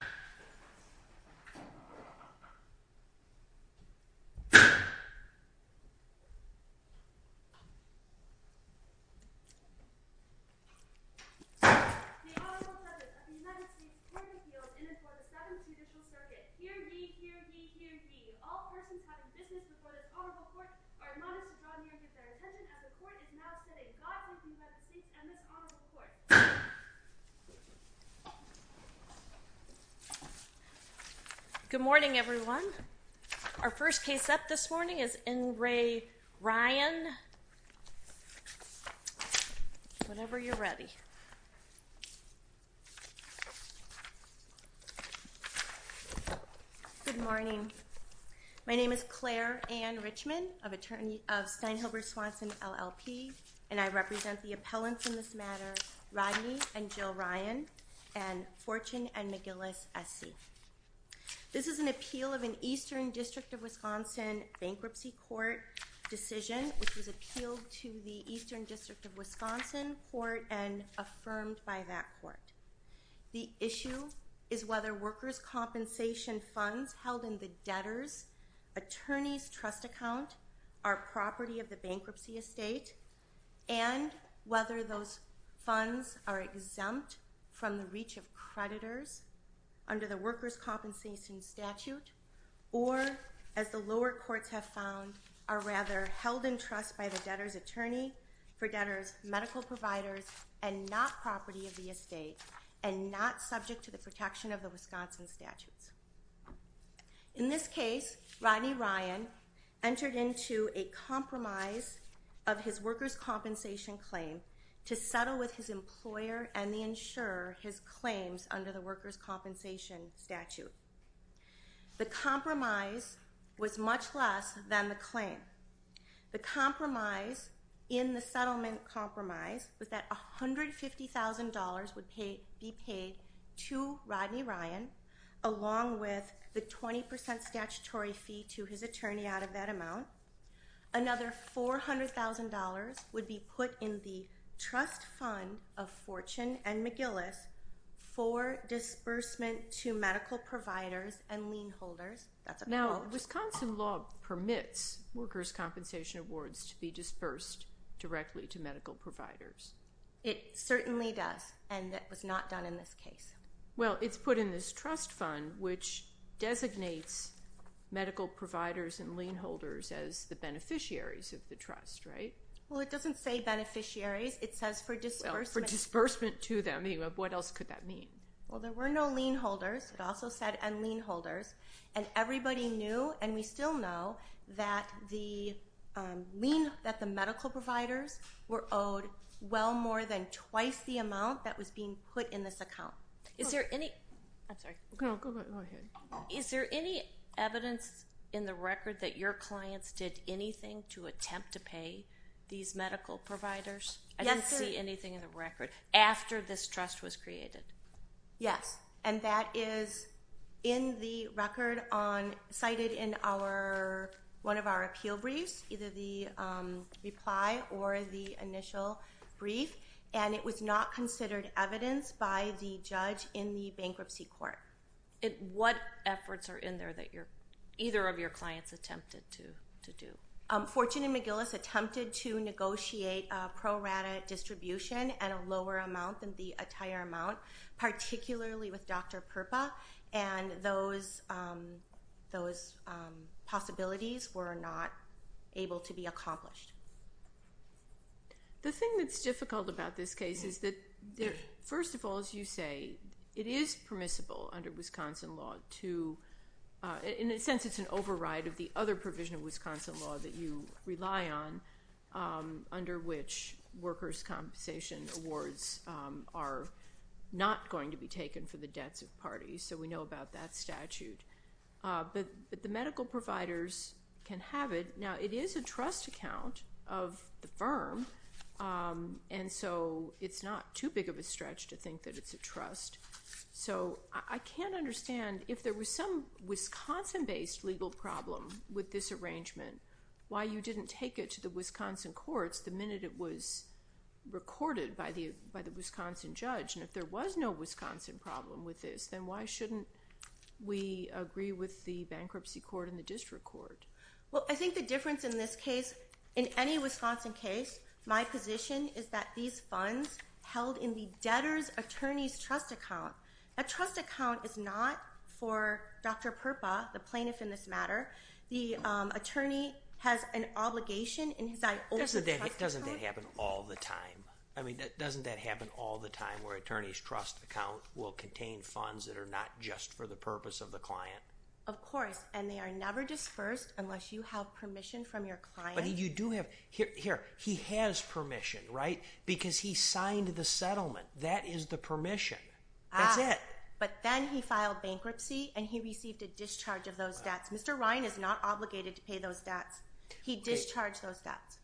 The Honorable Pledges of the United States Court of Appeals in and for the 7th Judicial Circuit. Hear ye! Hear ye! Hear ye! All persons having business before this honorable court are admonished to draw near with their Good morning everyone. Our first case up this morning is N. Ray Ryan. Whenever you're ready. Good morning. My name is Claire Ann Richmond, attorney of Steinhilber Swanson LLP and I represent the appellants in this matter Rodney and Jill Ryan and Fortune and McGillis S.C. This is an appeal of an Eastern District of Wisconsin bankruptcy court decision which was appealed to the Eastern District of Wisconsin court and affirmed by that court. The issue is whether workers' compensation funds held in the debtor's attorney's trust account are property of the bankruptcy estate and whether those funds are exempt from the reach of creditors under the workers' compensation statute or as the lower courts have found are rather held in trust by the debtor's attorney for debtor's medical providers and not property of the estate and not subject to the protection of the Wisconsin statutes. In this case, Rodney Ryan entered into a compromise of his workers' compensation claim to settle with his employer and the insurer his claims under the workers' compensation statute. The compromise was much less than the claim. The compromise in the settlement compromise was that $150,000 would be paid to Rodney Ryan along with the 20% statutory fee to his attorney out of that amount. Another $400,000 would be put in the trust fund of Fortune and McGillis for disbursement to medical providers and lien holders. Now, Wisconsin law permits workers' compensation awards to be disbursed directly to medical providers. It certainly does and it was not done in this case. Well, it's put in this trust fund which designates medical providers and lien holders as the beneficiaries of the trust, right? Well, it doesn't say beneficiaries. It says for disbursement. For disbursement to them. What else could that mean? Well, there were no lien holders. It also said lien holders and everybody knew and we still know that the medical providers were owed well more than twice the amount that was being put in this account. Is there any evidence in the record that your clients did anything to attempt to pay these medical providers? I didn't see anything in the record after this trust was created. Yes. And that is in the record cited in one of our appeal briefs, either the reply or the initial brief. And it was not considered evidence by the judge in the bankruptcy court. What efforts are in there that either of your clients attempted to do? Fortune and McGillis attempted to negotiate a pro rata distribution at a lower amount than the entire amount, particularly with Dr. Purpa, and those possibilities were not able to be accomplished. The thing that's difficult about this case is that, first of all, as you say, it is permissible under Wisconsin law to, in a sense it's an override of the other provision of Wisconsin law that you rely on, under which workers' compensation awards are not going to be taken for the debts of parties. So we know about that statute. But the medical providers can have it. Now, it is a trust account of the firm, and so it's not too big of a stretch to think that it's a trust. So I can't understand, if there was some Wisconsin-based legal problem with this arrangement, why you didn't take it to the Wisconsin courts the minute it was recorded by the Wisconsin judge. And if there was no Wisconsin problem with this, then why shouldn't we agree with the bankruptcy court and the district court? Well, I think the difference in this case, in any Wisconsin case, my position is that these funds held in the debtor's attorney's trust account, that trust account is not for Dr. Purpa, the plaintiff in this matter. The attorney has an obligation in his eye over the trust account. Doesn't that happen all the time? I mean, doesn't that happen all the time, where an attorney's trust account will contain funds that are not just for the purpose of the client? Of course. And they are never dispersed unless you have permission from your client. Here, he has permission, right? Because he signed the settlement. That is the permission. That's it. But then he filed bankruptcy and he received a discharge of those debts. Mr. Ryan is not obligated to pay those debts. He discharged those debts.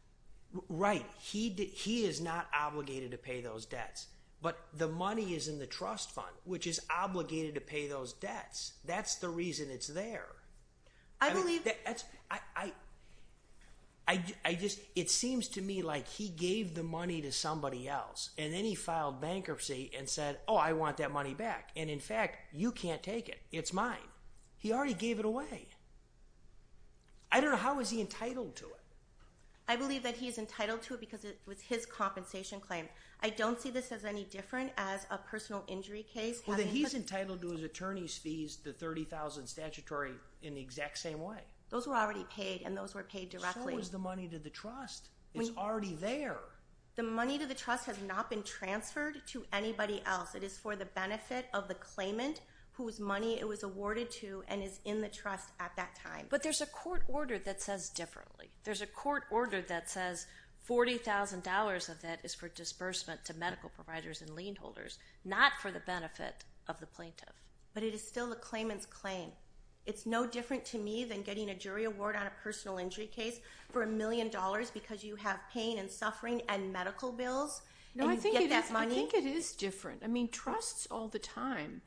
Right. He is not obligated to pay those debts. But the money is in the trust fund, which is obligated to pay those debts. That's the reason it's there. I believe— I just—it seems to me like he gave the money to somebody else, and then he filed bankruptcy and said, oh, I want that money back. And in fact, you can't take it. It's mine. He already gave it away. I don't know. How is he entitled to it? I believe that he is entitled to it because it was his compensation claim. I don't see this as any different as a personal injury case. Well, then he's entitled to his attorney's fees, the $30,000 statutory, in the exact same way. Those were already paid, and those were paid directly. So was the money to the trust. It's already there. The money to the trust has not been transferred to anybody else. It is for the benefit of the claimant whose money it was awarded to and is in the trust at that time. But there's a court order that says differently. There's a court order that says $40,000 of that is for disbursement to medical providers and lien holders, not for the benefit of the plaintiff. But it is still the claimant's claim. It's no different to me than getting a jury award on a personal injury case for a million dollars because you have pain and suffering and medical bills and you get that money? No, I think it is different. I mean, trusts all the time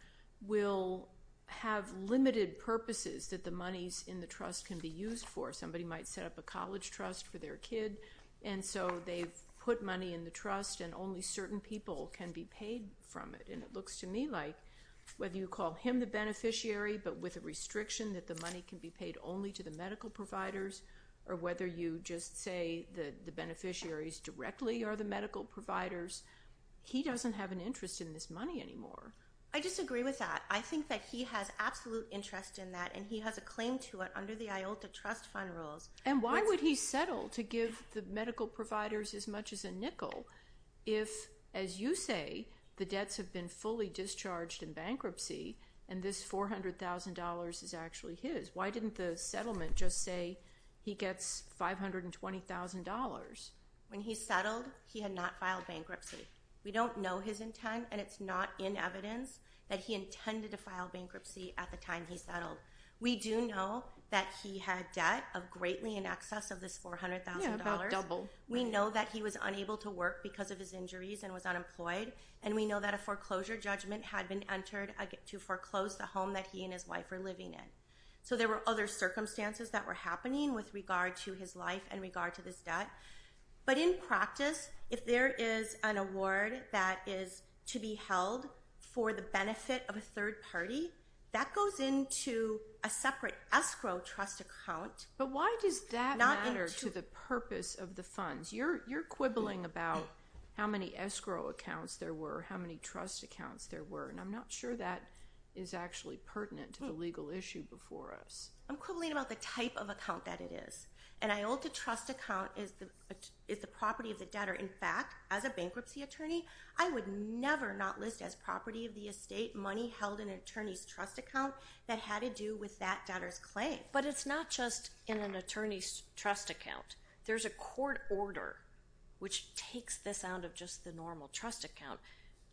will have limited purposes that the monies in the trust can be used for. Somebody might set up a college trust for their kid, and so they've put money in the trust and only certain people can be paid from it. And it looks to me like whether you call him the beneficiary but with a restriction that the money can be paid only to the medical providers or whether you just say that the beneficiaries directly are the medical providers, he doesn't have an interest in this money anymore. I disagree with that. I think that he has absolute interest in that, and he has a claim to it under the IOLTA trust fund rules. And why would he settle to give the medical providers as much as a nickel if, as you say, the debts have been fully discharged in bankruptcy and this $400,000 is actually his? Why didn't the settlement just say he gets $520,000? When he settled, he had not filed bankruptcy. We don't know his intent, and it's not in evidence that he intended to file bankruptcy at the time he settled. We do know that he had debt of greatly in excess of this $400,000. Yeah, about double. We know that he was unable to work because of his injuries and was unemployed, and we know that a foreclosure judgment had been entered to foreclose the home that he and his wife were living in. So there were other circumstances that were happening with regard to his life and regard to this debt. But in practice, if there is an award that is to be held for the benefit of a third party, that goes into a separate escrow trust account. But why does that matter to the purpose of the funds? You're quibbling about how many escrow accounts there were, how many trust accounts there were, and I'm not sure that is actually pertinent to the legal issue before us. I'm quibbling about the type of account that it is. An IOLTA trust account is the property of the debtor. In fact, as a bankruptcy attorney, I would never not list as property of the estate money held in an attorney's trust account that had to do with that debtor's claim. But it's not just in an attorney's trust account. There's a court order which takes this out of just the normal trust account,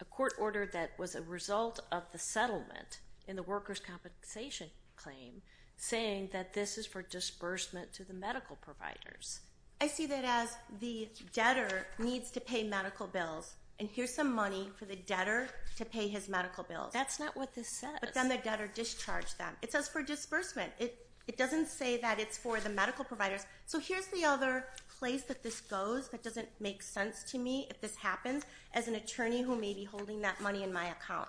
a court order that was a result of the settlement in the workers' compensation claim saying that this is for disbursement to the medical providers. I see that as the debtor needs to pay medical bills, and here's some money for the debtor to pay his medical bills. That's not what this says. But then the debtor discharged them. It says for disbursement. It doesn't say that it's for the medical providers. So here's the other place that this goes that doesn't make sense to me if this happens as an attorney who may be holding that money in my account.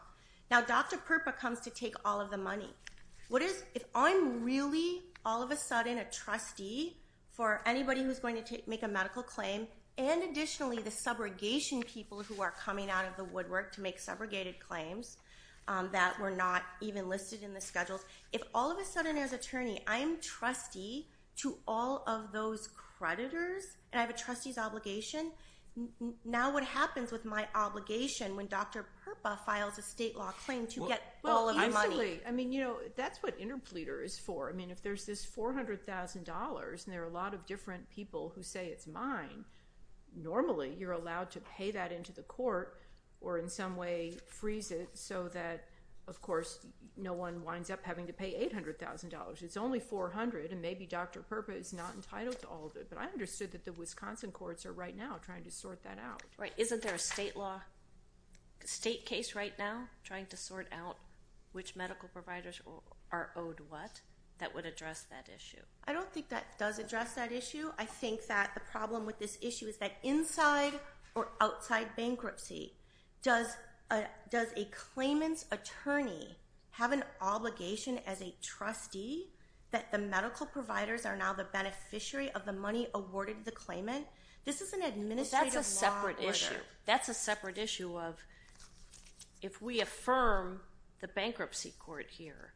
Now, Dr. Purpa comes to take all of the money. If I'm really all of a sudden a trustee for anybody who's going to make a medical claim and additionally the subrogation people who are coming out of the woodwork to make subrogated claims that were not even listed in the schedules, if all of a sudden as attorney I'm trustee to all of those creditors and I have a trustee's obligation, now what happens with my obligation when Dr. Purpa files a state law claim to get all of the money? Well, instantly. I mean, you know, that's what interpleader is for. I mean, if there's this $400,000 and there are a lot of different people who say it's mine, normally you're allowed to pay that into the court or in some way freeze it so that, of course, no one winds up having to pay $800,000. It's only $400,000, and maybe Dr. Purpa is not entitled to all of it. But I understood that the Wisconsin courts are right now trying to sort that out. Right. Isn't there a state case right now trying to sort out which medical providers are owed what? That would address that issue. I don't think that does address that issue. I think that the problem with this issue is that inside or outside bankruptcy, does a claimant's attorney have an obligation as a trustee that the medical providers are now the beneficiary of the money awarded to the claimant? This is an administrative law order. That's a separate issue. If we affirm the bankruptcy court here,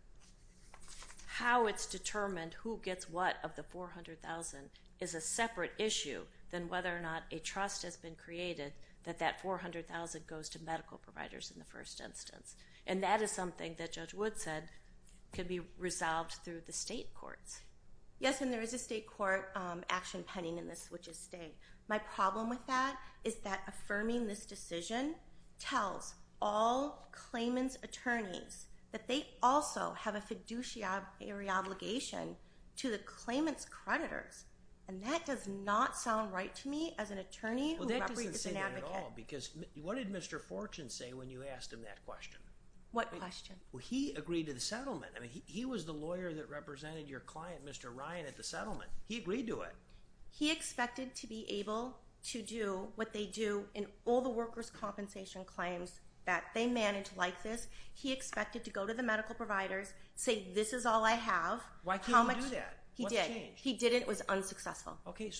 how it's determined who gets what of the $400,000 is a separate issue than whether or not a trust has been created that that $400,000 goes to medical providers in the first instance. And that is something that Judge Wood said could be resolved through the state courts. Yes, and there is a state court action pending in this, which is staying. My problem with that is that affirming this decision tells all claimant's attorneys that they also have a fiduciary obligation to the claimant's creditors. And that does not sound right to me as an attorney who represents an advocate. Well, that doesn't say that at all because what did Mr. Fortune say when you asked him that question? What question? Well, he agreed to the settlement. I mean, he was the lawyer that represented your client, Mr. Ryan, at the settlement. He agreed to it. He expected to be able to do what they do in all the workers' compensation claims that they manage like this. He expected to go to the medical providers, say, this is all I have. Why couldn't he do that? He did. What changed? He did it and it was unsuccessful. Okay,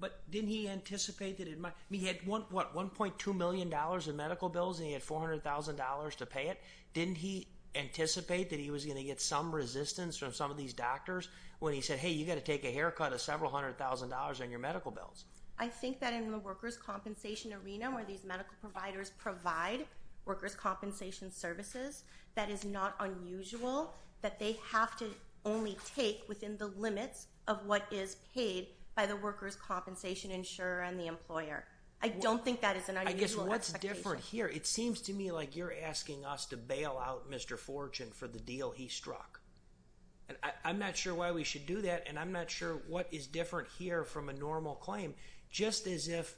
but didn't he anticipate that it might? He had, what, $1.2 million in medical bills and he had $400,000 to pay it? Didn't he anticipate that he was going to get some resistance from some of these doctors when he said, hey, you've got to take a haircut of several hundred thousand dollars on your medical bills? I think that in the workers' compensation arena where these medical providers provide workers' compensation services, that is not unusual that they have to only take within the limits of what is paid by the workers' compensation insurer and the employer. I don't think that is an unusual expectation. I guess what's different here, it seems to me like you're asking us to bail out Mr. Fortune for the deal he struck. I'm not sure why we should do that and I'm not sure what is different here from a normal claim. Just as if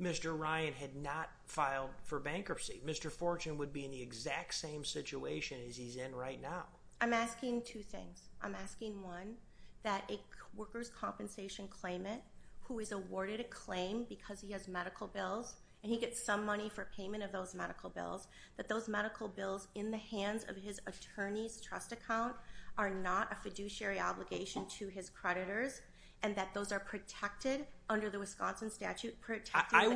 Mr. Ryan had not filed for bankruptcy, Mr. Fortune would be in the exact same situation as he's in right now. I'm asking two things. I'm asking, one, that a workers' compensation claimant who is awarded a claim because he has medical bills and he gets some money for payment of those medical bills, that those medical bills in the hands of his attorney's trust account are not a fiduciary obligation to his creditors and that those are protected under the Wisconsin statute. I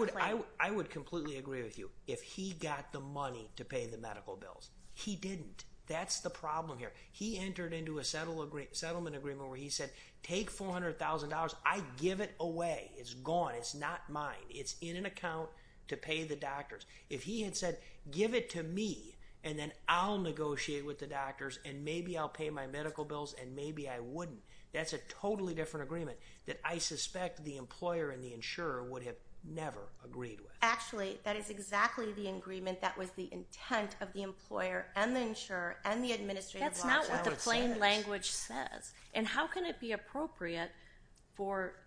would completely agree with you if he got the money to pay the medical bills. He didn't. That's the problem here. He entered into a settlement agreement where he said, take $400,000. I give it away. It's gone. It's not mine. It's in an account to pay the doctors. If he had said, give it to me and then I'll negotiate with the doctors and maybe I'll pay my medical bills and maybe I wouldn't, that's a totally different agreement that I suspect the employer and the insurer would have never agreed with. Actually, that is exactly the agreement that was the intent of the employer and the insurer and the administrative officer. That's not what the plain language says. And how can it be appropriate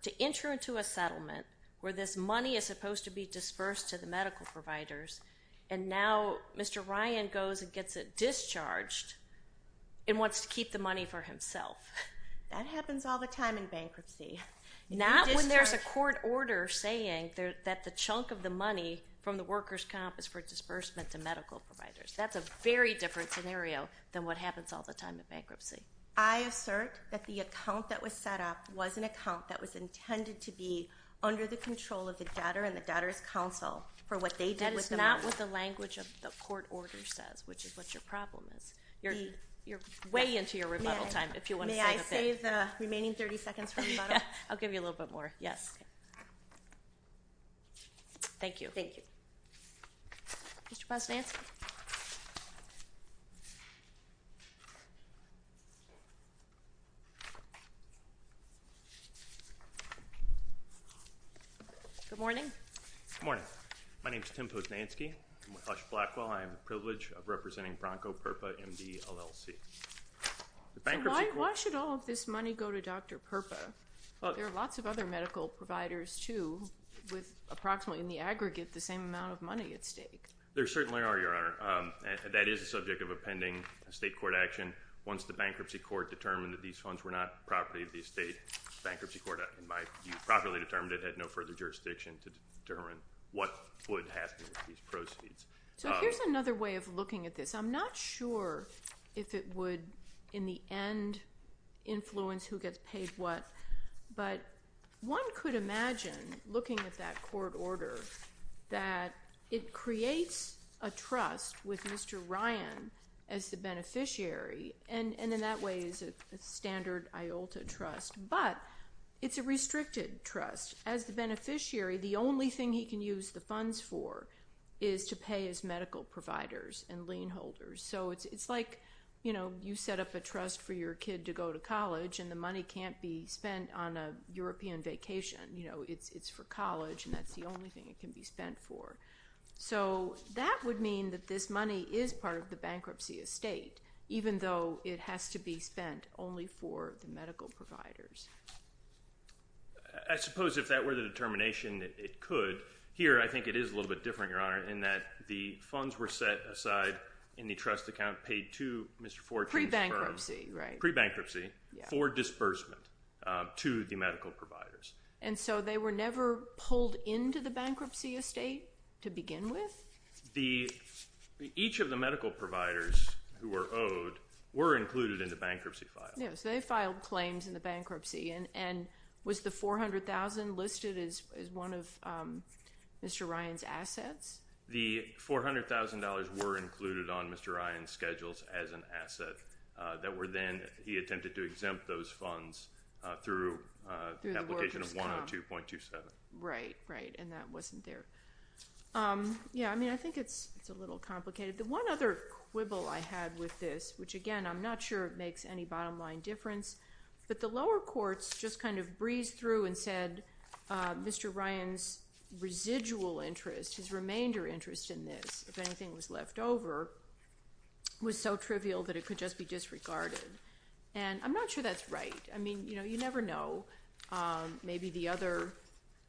to enter into a settlement where this money is supposed to be dispersed to the medical providers and now Mr. Ryan goes and gets it discharged and wants to keep the money for himself? That happens all the time in bankruptcy. Not when there's a court order saying that the chunk of the money from the workers' comp is for disbursement to medical providers. That's a very different scenario than what happens all the time in bankruptcy. I assert that the account that was set up was an account that was intended to be under the control of the debtor and the debtor's counsel for what they did with the money. That is not what the language of the court order says, which is what your problem is. You're way into your rebuttal time, if you want to save a bit. May I save the remaining 30 seconds for rebuttal? I'll give you a little bit more. Yes. Thank you. Thank you. Mr. Posnanski? Good morning. Good morning. My name is Tim Posnanski. I'm with Hush Blackwell. I have the privilege of representing Bronco Purpa MD, LLC. Why should all of this money go to Dr. Purpa? There are lots of other medical providers, too, with approximately, in the aggregate, the same amount of money at stake. There certainly are, Your Honor. That is the subject of a pending state court action. Once the bankruptcy court determined that these funds were not property of the estate, the bankruptcy court, in my view, properly determined it, had no further jurisdiction to determine what would happen with these proceeds. So here's another way of looking at this. I'm not sure if it would, in the end, influence who gets paid what, but one could imagine, looking at that court order, that it creates a trust with Mr. Ryan as the beneficiary, and in that way is a standard IOLTA trust, but it's a restricted trust. As the beneficiary, the only thing he can use the funds for is to pay his medical providers and lien holders. So it's like you set up a trust for your kid to go to college, and the money can't be spent on a European vacation. It's for college, and that's the only thing it can be spent for. So that would mean that this money is part of the bankruptcy estate, even though it has to be spent only for the medical providers. I suppose if that were the determination, it could. Here, I think it is a little bit different, Your Honor, in that the funds were set aside in the trust account, paid to Mr. Fortune's firm. Pre-bankruptcy, right. Pre-bankruptcy for disbursement to the medical providers. And so they were never pulled into the bankruptcy estate to begin with? Each of the medical providers who were owed were included in the bankruptcy file. Yes, they filed claims in the bankruptcy. And was the $400,000 listed as one of Mr. Ryan's assets? The $400,000 were included on Mr. Ryan's schedules as an asset that were then, he attempted to exempt those funds through the application of 102.27. Right, right, and that wasn't there. Yeah, I mean, I think it's a little complicated. The one other quibble I had with this, which, again, I'm not sure makes any bottom line difference, but the lower courts just kind of breezed through and said Mr. Ryan's residual interest, his remainder interest in this, if anything was left over, was so trivial that it could just be disregarded. And I'm not sure that's right. I mean, you know, you never know. Maybe the other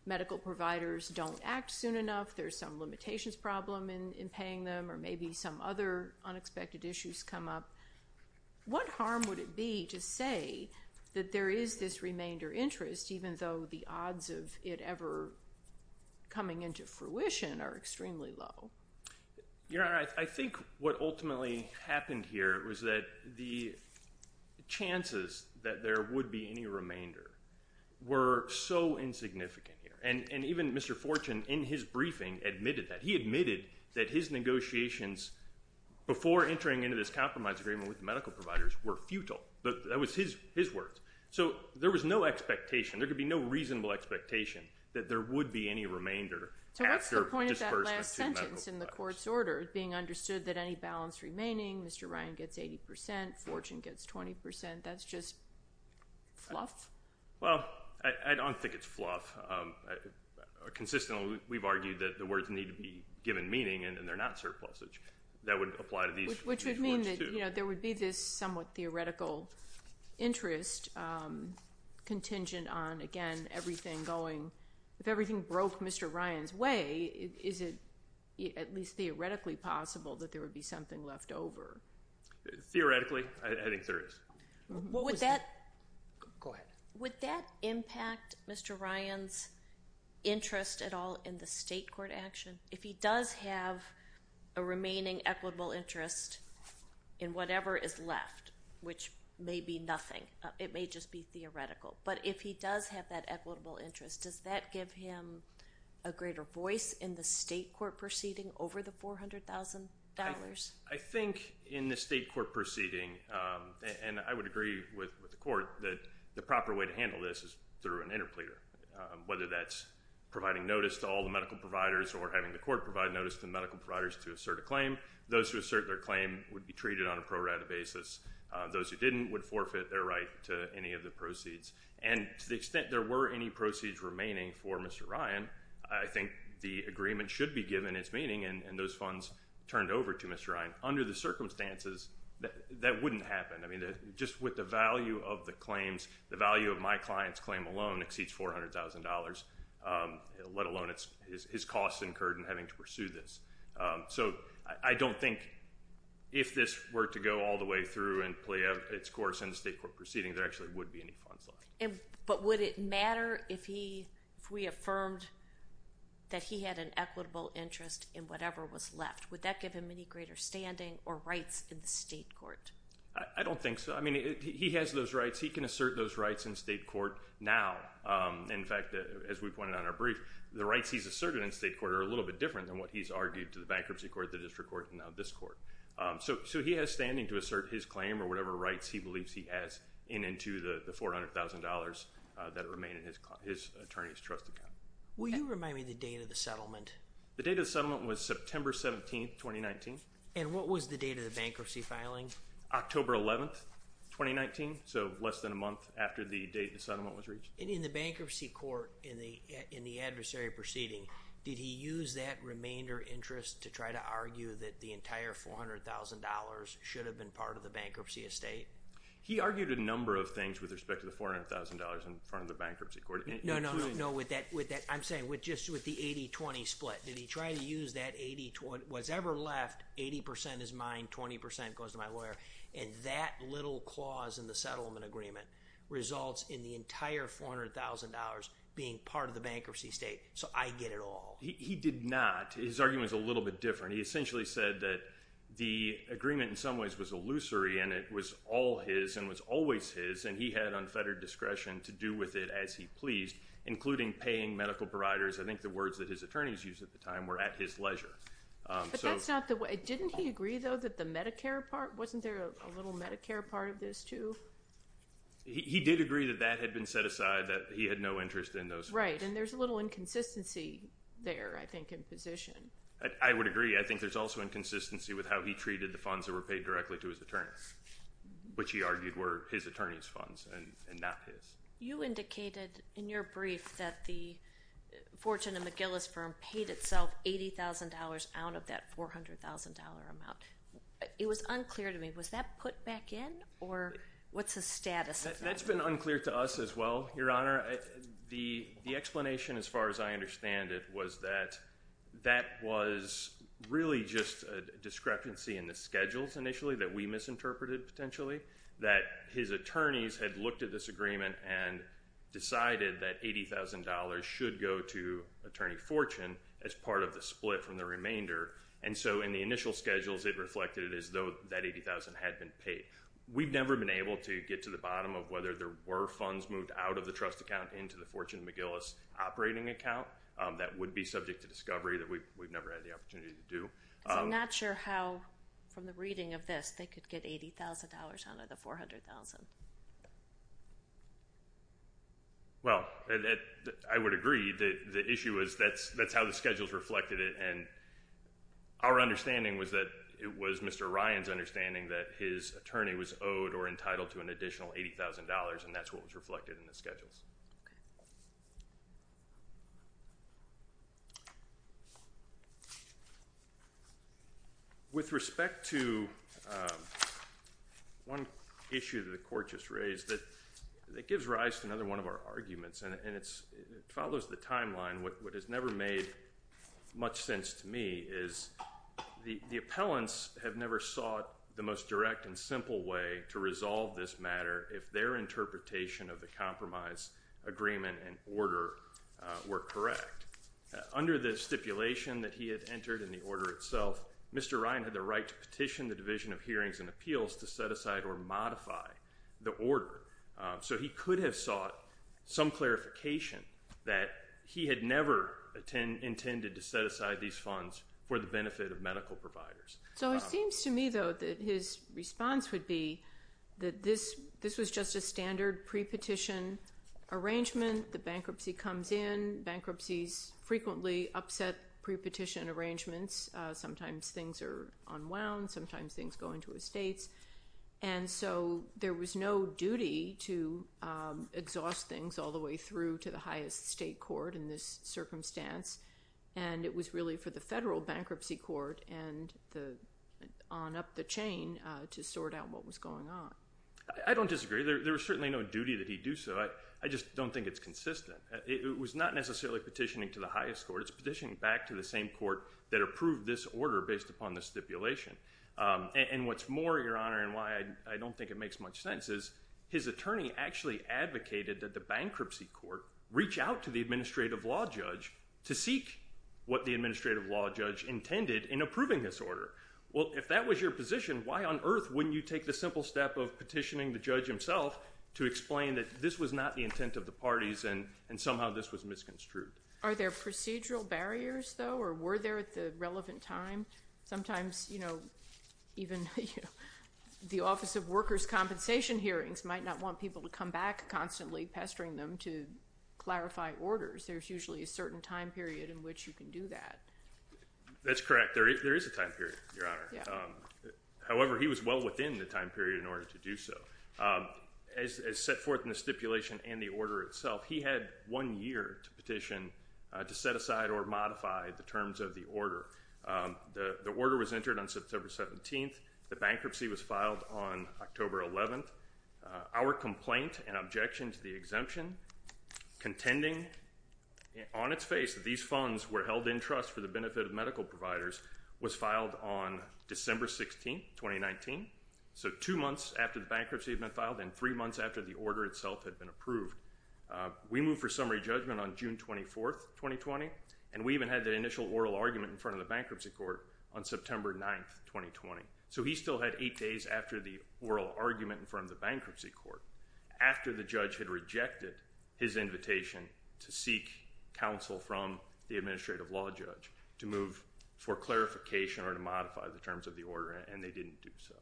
medical providers don't act soon enough. There's some limitations problem in paying them, or maybe some other unexpected issues come up. What harm would it be to say that there is this remainder interest, even though the odds of it ever coming into fruition are extremely low? You know, I think what ultimately happened here was that the chances that there would be any remainder were so insignificant here. And even Mr. Fortune, in his briefing, admitted that. He admitted that his negotiations before entering into this compromise agreement with the medical providers were futile. That was his words. So there was no expectation. There could be no reasonable expectation that there would be any remainder after disbursing the two medical providers. So what's the point of that last sentence in the court's order, being understood that any balance remaining, Mr. Ryan gets 80 percent, Fortune gets 20 percent? That's just fluff? Well, I don't think it's fluff. Consistently, we've argued that the words need to be given meaning, and they're not surpluses. That would apply to these words, too. Which would mean that there would be this somewhat theoretical interest contingent on, again, everything going. If everything broke Mr. Ryan's way, is it at least theoretically possible that there would be something left over? Theoretically, I think there is. Go ahead. Would that impact Mr. Ryan's interest at all in the state court action? If he does have a remaining equitable interest in whatever is left, which may be nothing. It may just be theoretical. But if he does have that equitable interest, does that give him a greater voice in the state court proceeding over the $400,000? I think in the state court proceeding, and I would agree with the court, that the proper way to handle this is through an interpleader, whether that's providing notice to all the medical providers or having the court provide notice to the medical providers to assert a claim. Those who assert their claim would be treated on a pro rata basis. Those who didn't would forfeit their right to any of the proceeds. And to the extent there were any proceeds remaining for Mr. Ryan, I think the agreement should be given its meaning, and those funds turned over to Mr. Ryan. Under the circumstances, that wouldn't happen. I mean, just with the value of the claims, the value of my client's claim alone exceeds $400,000, let alone his costs incurred in having to pursue this. So I don't think if this were to go all the way through and play its course in the state court proceeding, there actually would be any funds left. But would it matter if we affirmed that he had an equitable interest in whatever was left? Would that give him any greater standing or rights in the state court? I don't think so. I mean, he has those rights. He can assert those rights in state court now. In fact, as we pointed out in our brief, the rights he's asserted in state court are a little bit different than what he's argued to the bankruptcy court, the district court, and now this court. So he has standing to assert his claim or whatever rights he believes he has in and to the $400,000 that remain in his attorney's trust account. Will you remind me the date of the settlement? The date of the settlement was September 17th, 2019. And what was the date of the bankruptcy filing? October 11th, 2019, so less than a month after the date the settlement was reached. In the bankruptcy court, in the adversary proceeding, did he use that remainder interest to try to argue that the entire $400,000 should have been part of the bankruptcy estate? He argued a number of things with respect to the $400,000 in front of the bankruptcy court. No, no, no, no. I'm saying just with the 80-20 split. Did he try to use that 80-20? Whatever's left, 80% is mine, 20% goes to my lawyer. And that little clause in the settlement agreement results in the entire $400,000 being part of the bankruptcy estate, so I get it all. He did not. His argument was a little bit different. He essentially said that the agreement in some ways was illusory and it was all his and was always his, and he had unfettered discretion to do with it as he pleased, including paying medical providers. I think the words that his attorneys used at the time were at his leisure. But that's not the way. Didn't he agree, though, that the Medicare part? Wasn't there a little Medicare part of this, too? He did agree that that had been set aside, that he had no interest in those funds. Right, and there's a little inconsistency there, I think, in position. I would agree. I think there's also inconsistency with how he treated the funds that were paid directly to his attorneys, which he argued were his attorneys' funds and not his. You indicated in your brief that the Fortune and McGillis firm paid itself $80,000 out of that $400,000 amount. It was unclear to me. Was that put back in, or what's the status of that? That's been unclear to us as well, Your Honor. The explanation, as far as I understand it, was that that was really just a discrepancy in the schedules initially that we misinterpreted potentially, that his attorneys had looked at this agreement and decided that $80,000 should go to Attorney Fortune as part of the split from the remainder. And so, in the initial schedules, it reflected as though that $80,000 had been paid. We've never been able to get to the bottom of whether there were funds moved out of the trust account into the Fortune and McGillis operating account. That would be subject to discovery. We've never had the opportunity to do. I'm not sure how, from the reading of this, they could get $80,000 out of the $400,000. Well, I would agree. The issue is that's how the schedules reflected it. Our understanding was that it was Mr. Ryan's understanding that his attorney was owed or entitled to an additional $80,000, and that's what was reflected in the schedules. With respect to one issue that the Court just raised, it gives rise to another one of our arguments, and it follows the timeline. What has never made much sense to me is the appellants have never sought the most direct and simple way to resolve this matter if their interpretation of the compromise agreement and order were correct. Under the stipulation that he had entered in the order itself, Mr. Ryan had the right to petition the Division of Hearings and Appeals to set aside or modify the order. So he could have sought some clarification that he had never intended to set aside these funds for the benefit of medical providers. So it seems to me, though, that his response would be that this was just a standard pre-petition arrangement. The bankruptcy comes in. Bankruptcies frequently upset pre-petition arrangements. Sometimes things are unwound. Sometimes things go into estates. And so there was no duty to exhaust things all the way through to the highest state court in this circumstance, and it was really for the federal bankruptcy court and on up the chain to sort out what was going on. I don't disagree. There was certainly no duty that he do so. I just don't think it's consistent. It was not necessarily petitioning to the highest court. It's petitioning back to the same court that approved this order based upon the stipulation. And what's more, Your Honor, and why I don't think it makes much sense is his attorney actually advocated that the bankruptcy court reach out to the administrative law judge to seek what the administrative law judge intended in approving this order. Well, if that was your position, why on earth wouldn't you take the simple step of petitioning the judge himself to explain that this was not the intent of the parties and somehow this was misconstrued? Are there procedural barriers, though, or were there at the relevant time? Sometimes, you know, even the Office of Workers' Compensation hearings might not want people to come back constantly pestering them to clarify orders. There's usually a certain time period in which you can do that. That's correct. There is a time period, Your Honor. However, he was well within the time period in order to do so. As set forth in the stipulation and the order itself, he had one year to petition to set aside or modify the terms of the order. The order was entered on September 17th. The bankruptcy was filed on October 11th. Our complaint and objection to the exemption contending on its face that these funds were held in trust for the benefit of medical providers was filed on December 16th, 2019, so two months after the bankruptcy had been filed and three months after the order itself had been approved. We moved for summary judgment on June 24th, 2020, and we even had the initial oral argument in front of the bankruptcy court on September 9th, 2020. So he still had eight days after the oral argument in front of the bankruptcy court, after the judge had rejected his invitation to seek counsel from the administrative law judge to move for clarification or to modify the terms of the order, and they didn't do so.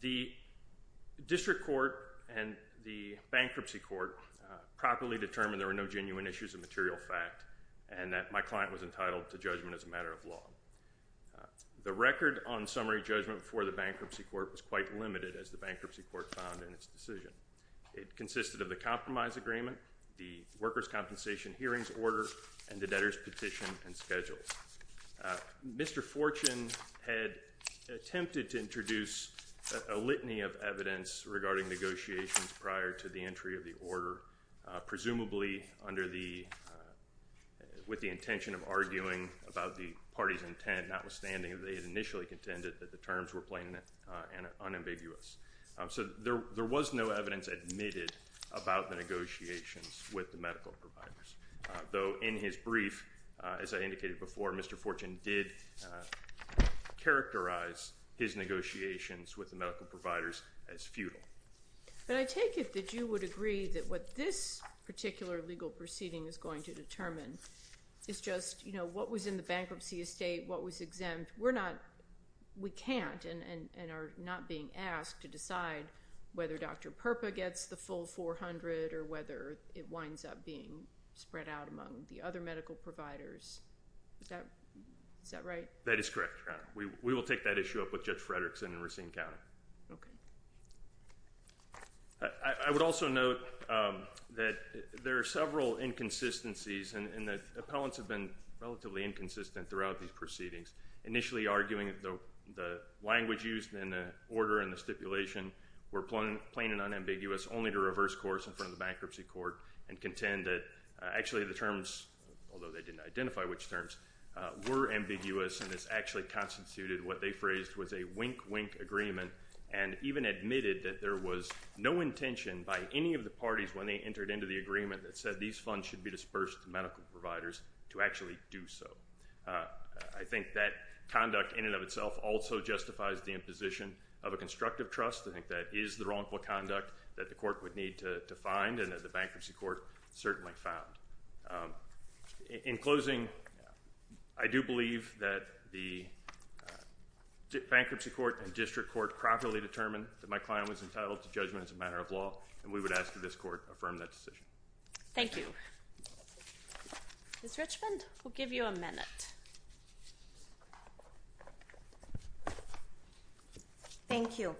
The district court and the bankruptcy court properly determined there were no genuine issues of material fact and that my client was entitled to judgment as a matter of law. The record on summary judgment for the bankruptcy court was quite limited, as the bankruptcy court found in its decision. It consisted of the compromise agreement, the workers' compensation hearings order, and the debtors' petition and schedules. Mr. Fortune had attempted to introduce a litany of evidence regarding negotiations prior to the entry of the order, presumably with the intention of arguing about the party's intent, notwithstanding they had initially contended that the terms were plain and unambiguous. So there was no evidence admitted about the negotiations with the medical providers, though in his brief, as I indicated before, Mr. Fortune did characterize his negotiations with the medical providers as futile. But I take it that you would agree that what this particular legal proceeding is going to determine is just, you know, what was in the bankruptcy estate, what was exempt. We're not, we can't and are not being asked to decide whether Dr. Purpa gets the full 400 or whether it winds up being spread out among the other medical providers. Is that right? That is correct, Your Honor. We will take that issue up with Judge Fredrickson in Racine County. Okay. I would also note that there are several inconsistencies and the appellants have been relatively inconsistent throughout these proceedings, initially arguing that the language used in the order and the stipulation were plain and unambiguous, only to reverse course in front of the bankruptcy court and contend that actually the terms, although they didn't identify which terms, were ambiguous, and this actually constituted what they phrased was a wink-wink agreement and even admitted that there was no intention by any of the parties when they entered into the agreement that said these funds should be dispersed to medical providers to actually do so. I think that conduct in and of itself also justifies the imposition of a constructive trust. I think that is the wrongful conduct that the court would need to find and that the bankruptcy court certainly found. In closing, I do believe that the bankruptcy court and district court properly determined that my client was entitled to judgment as a matter of law and we would ask that this court affirm that decision. Thank you. Ms. Richmond, we'll give you a minute. Thank you.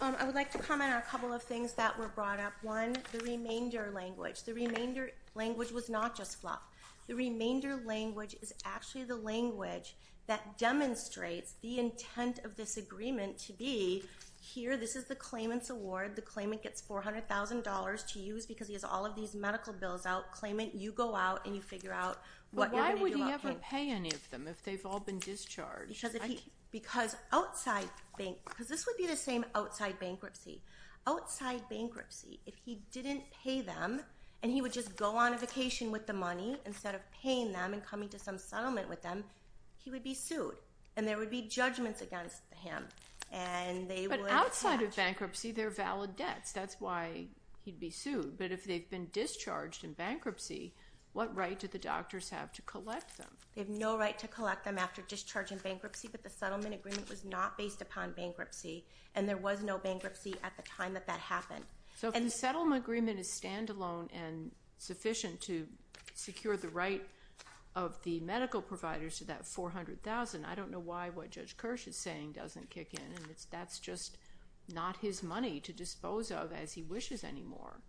I would like to comment on a couple of things that were brought up. One, the remainder language. The remainder language was not just fluff. The remainder language is actually the language that demonstrates the intent of this agreement to be here. This is the claimant's award. The claimant gets $400,000 to use because he has all of these medical bills out. Claimant, you go out and you figure out what you're going to do about him. But why would he ever pay any of them if they've all been discharged? Because this would be the same outside bankruptcy. Outside bankruptcy, if he didn't pay them and he would just go on a vacation with the money instead of paying them and coming to some settlement with them, he would be sued and there would be judgments against him. But outside of bankruptcy, there are valid debts. That's why he'd be sued. But if they've been discharged in bankruptcy, what right do the doctors have to collect them? They have no right to collect them after discharge in bankruptcy, but the settlement agreement was not based upon bankruptcy and there was no bankruptcy at the time that that happened. So if the settlement agreement is standalone and sufficient to secure the right of the medical providers to that $400,000, I don't know why what Judge Kirsch is saying doesn't kick in. That's just not his money to dispose of as he wishes anymore.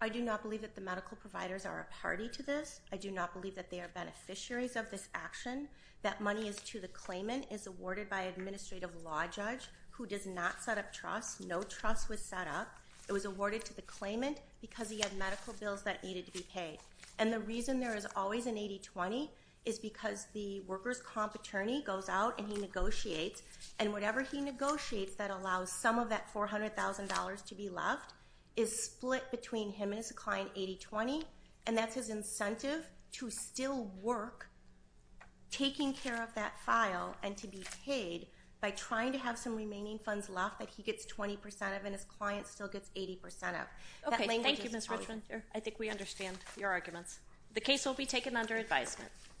I do not believe that the medical providers are a party to this. I do not believe that they are beneficiaries of this action. That money is to the claimant, is awarded by an administrative law judge who does not set up trust. No trust was set up. It was awarded to the claimant because he had medical bills that needed to be paid. And the reason there is always an 80-20 is because the workers' comp attorney goes out and he negotiates, and whatever he negotiates that allows some of that $400,000 to be left is split between him and his client 80-20, and that's his incentive to still work taking care of that file and to be paid by trying to have some remaining funds left that he gets 20% of and his client still gets 80% of. Okay, thank you, Ms. Richmond. I think we understand your arguments. The case will be taken under advisement.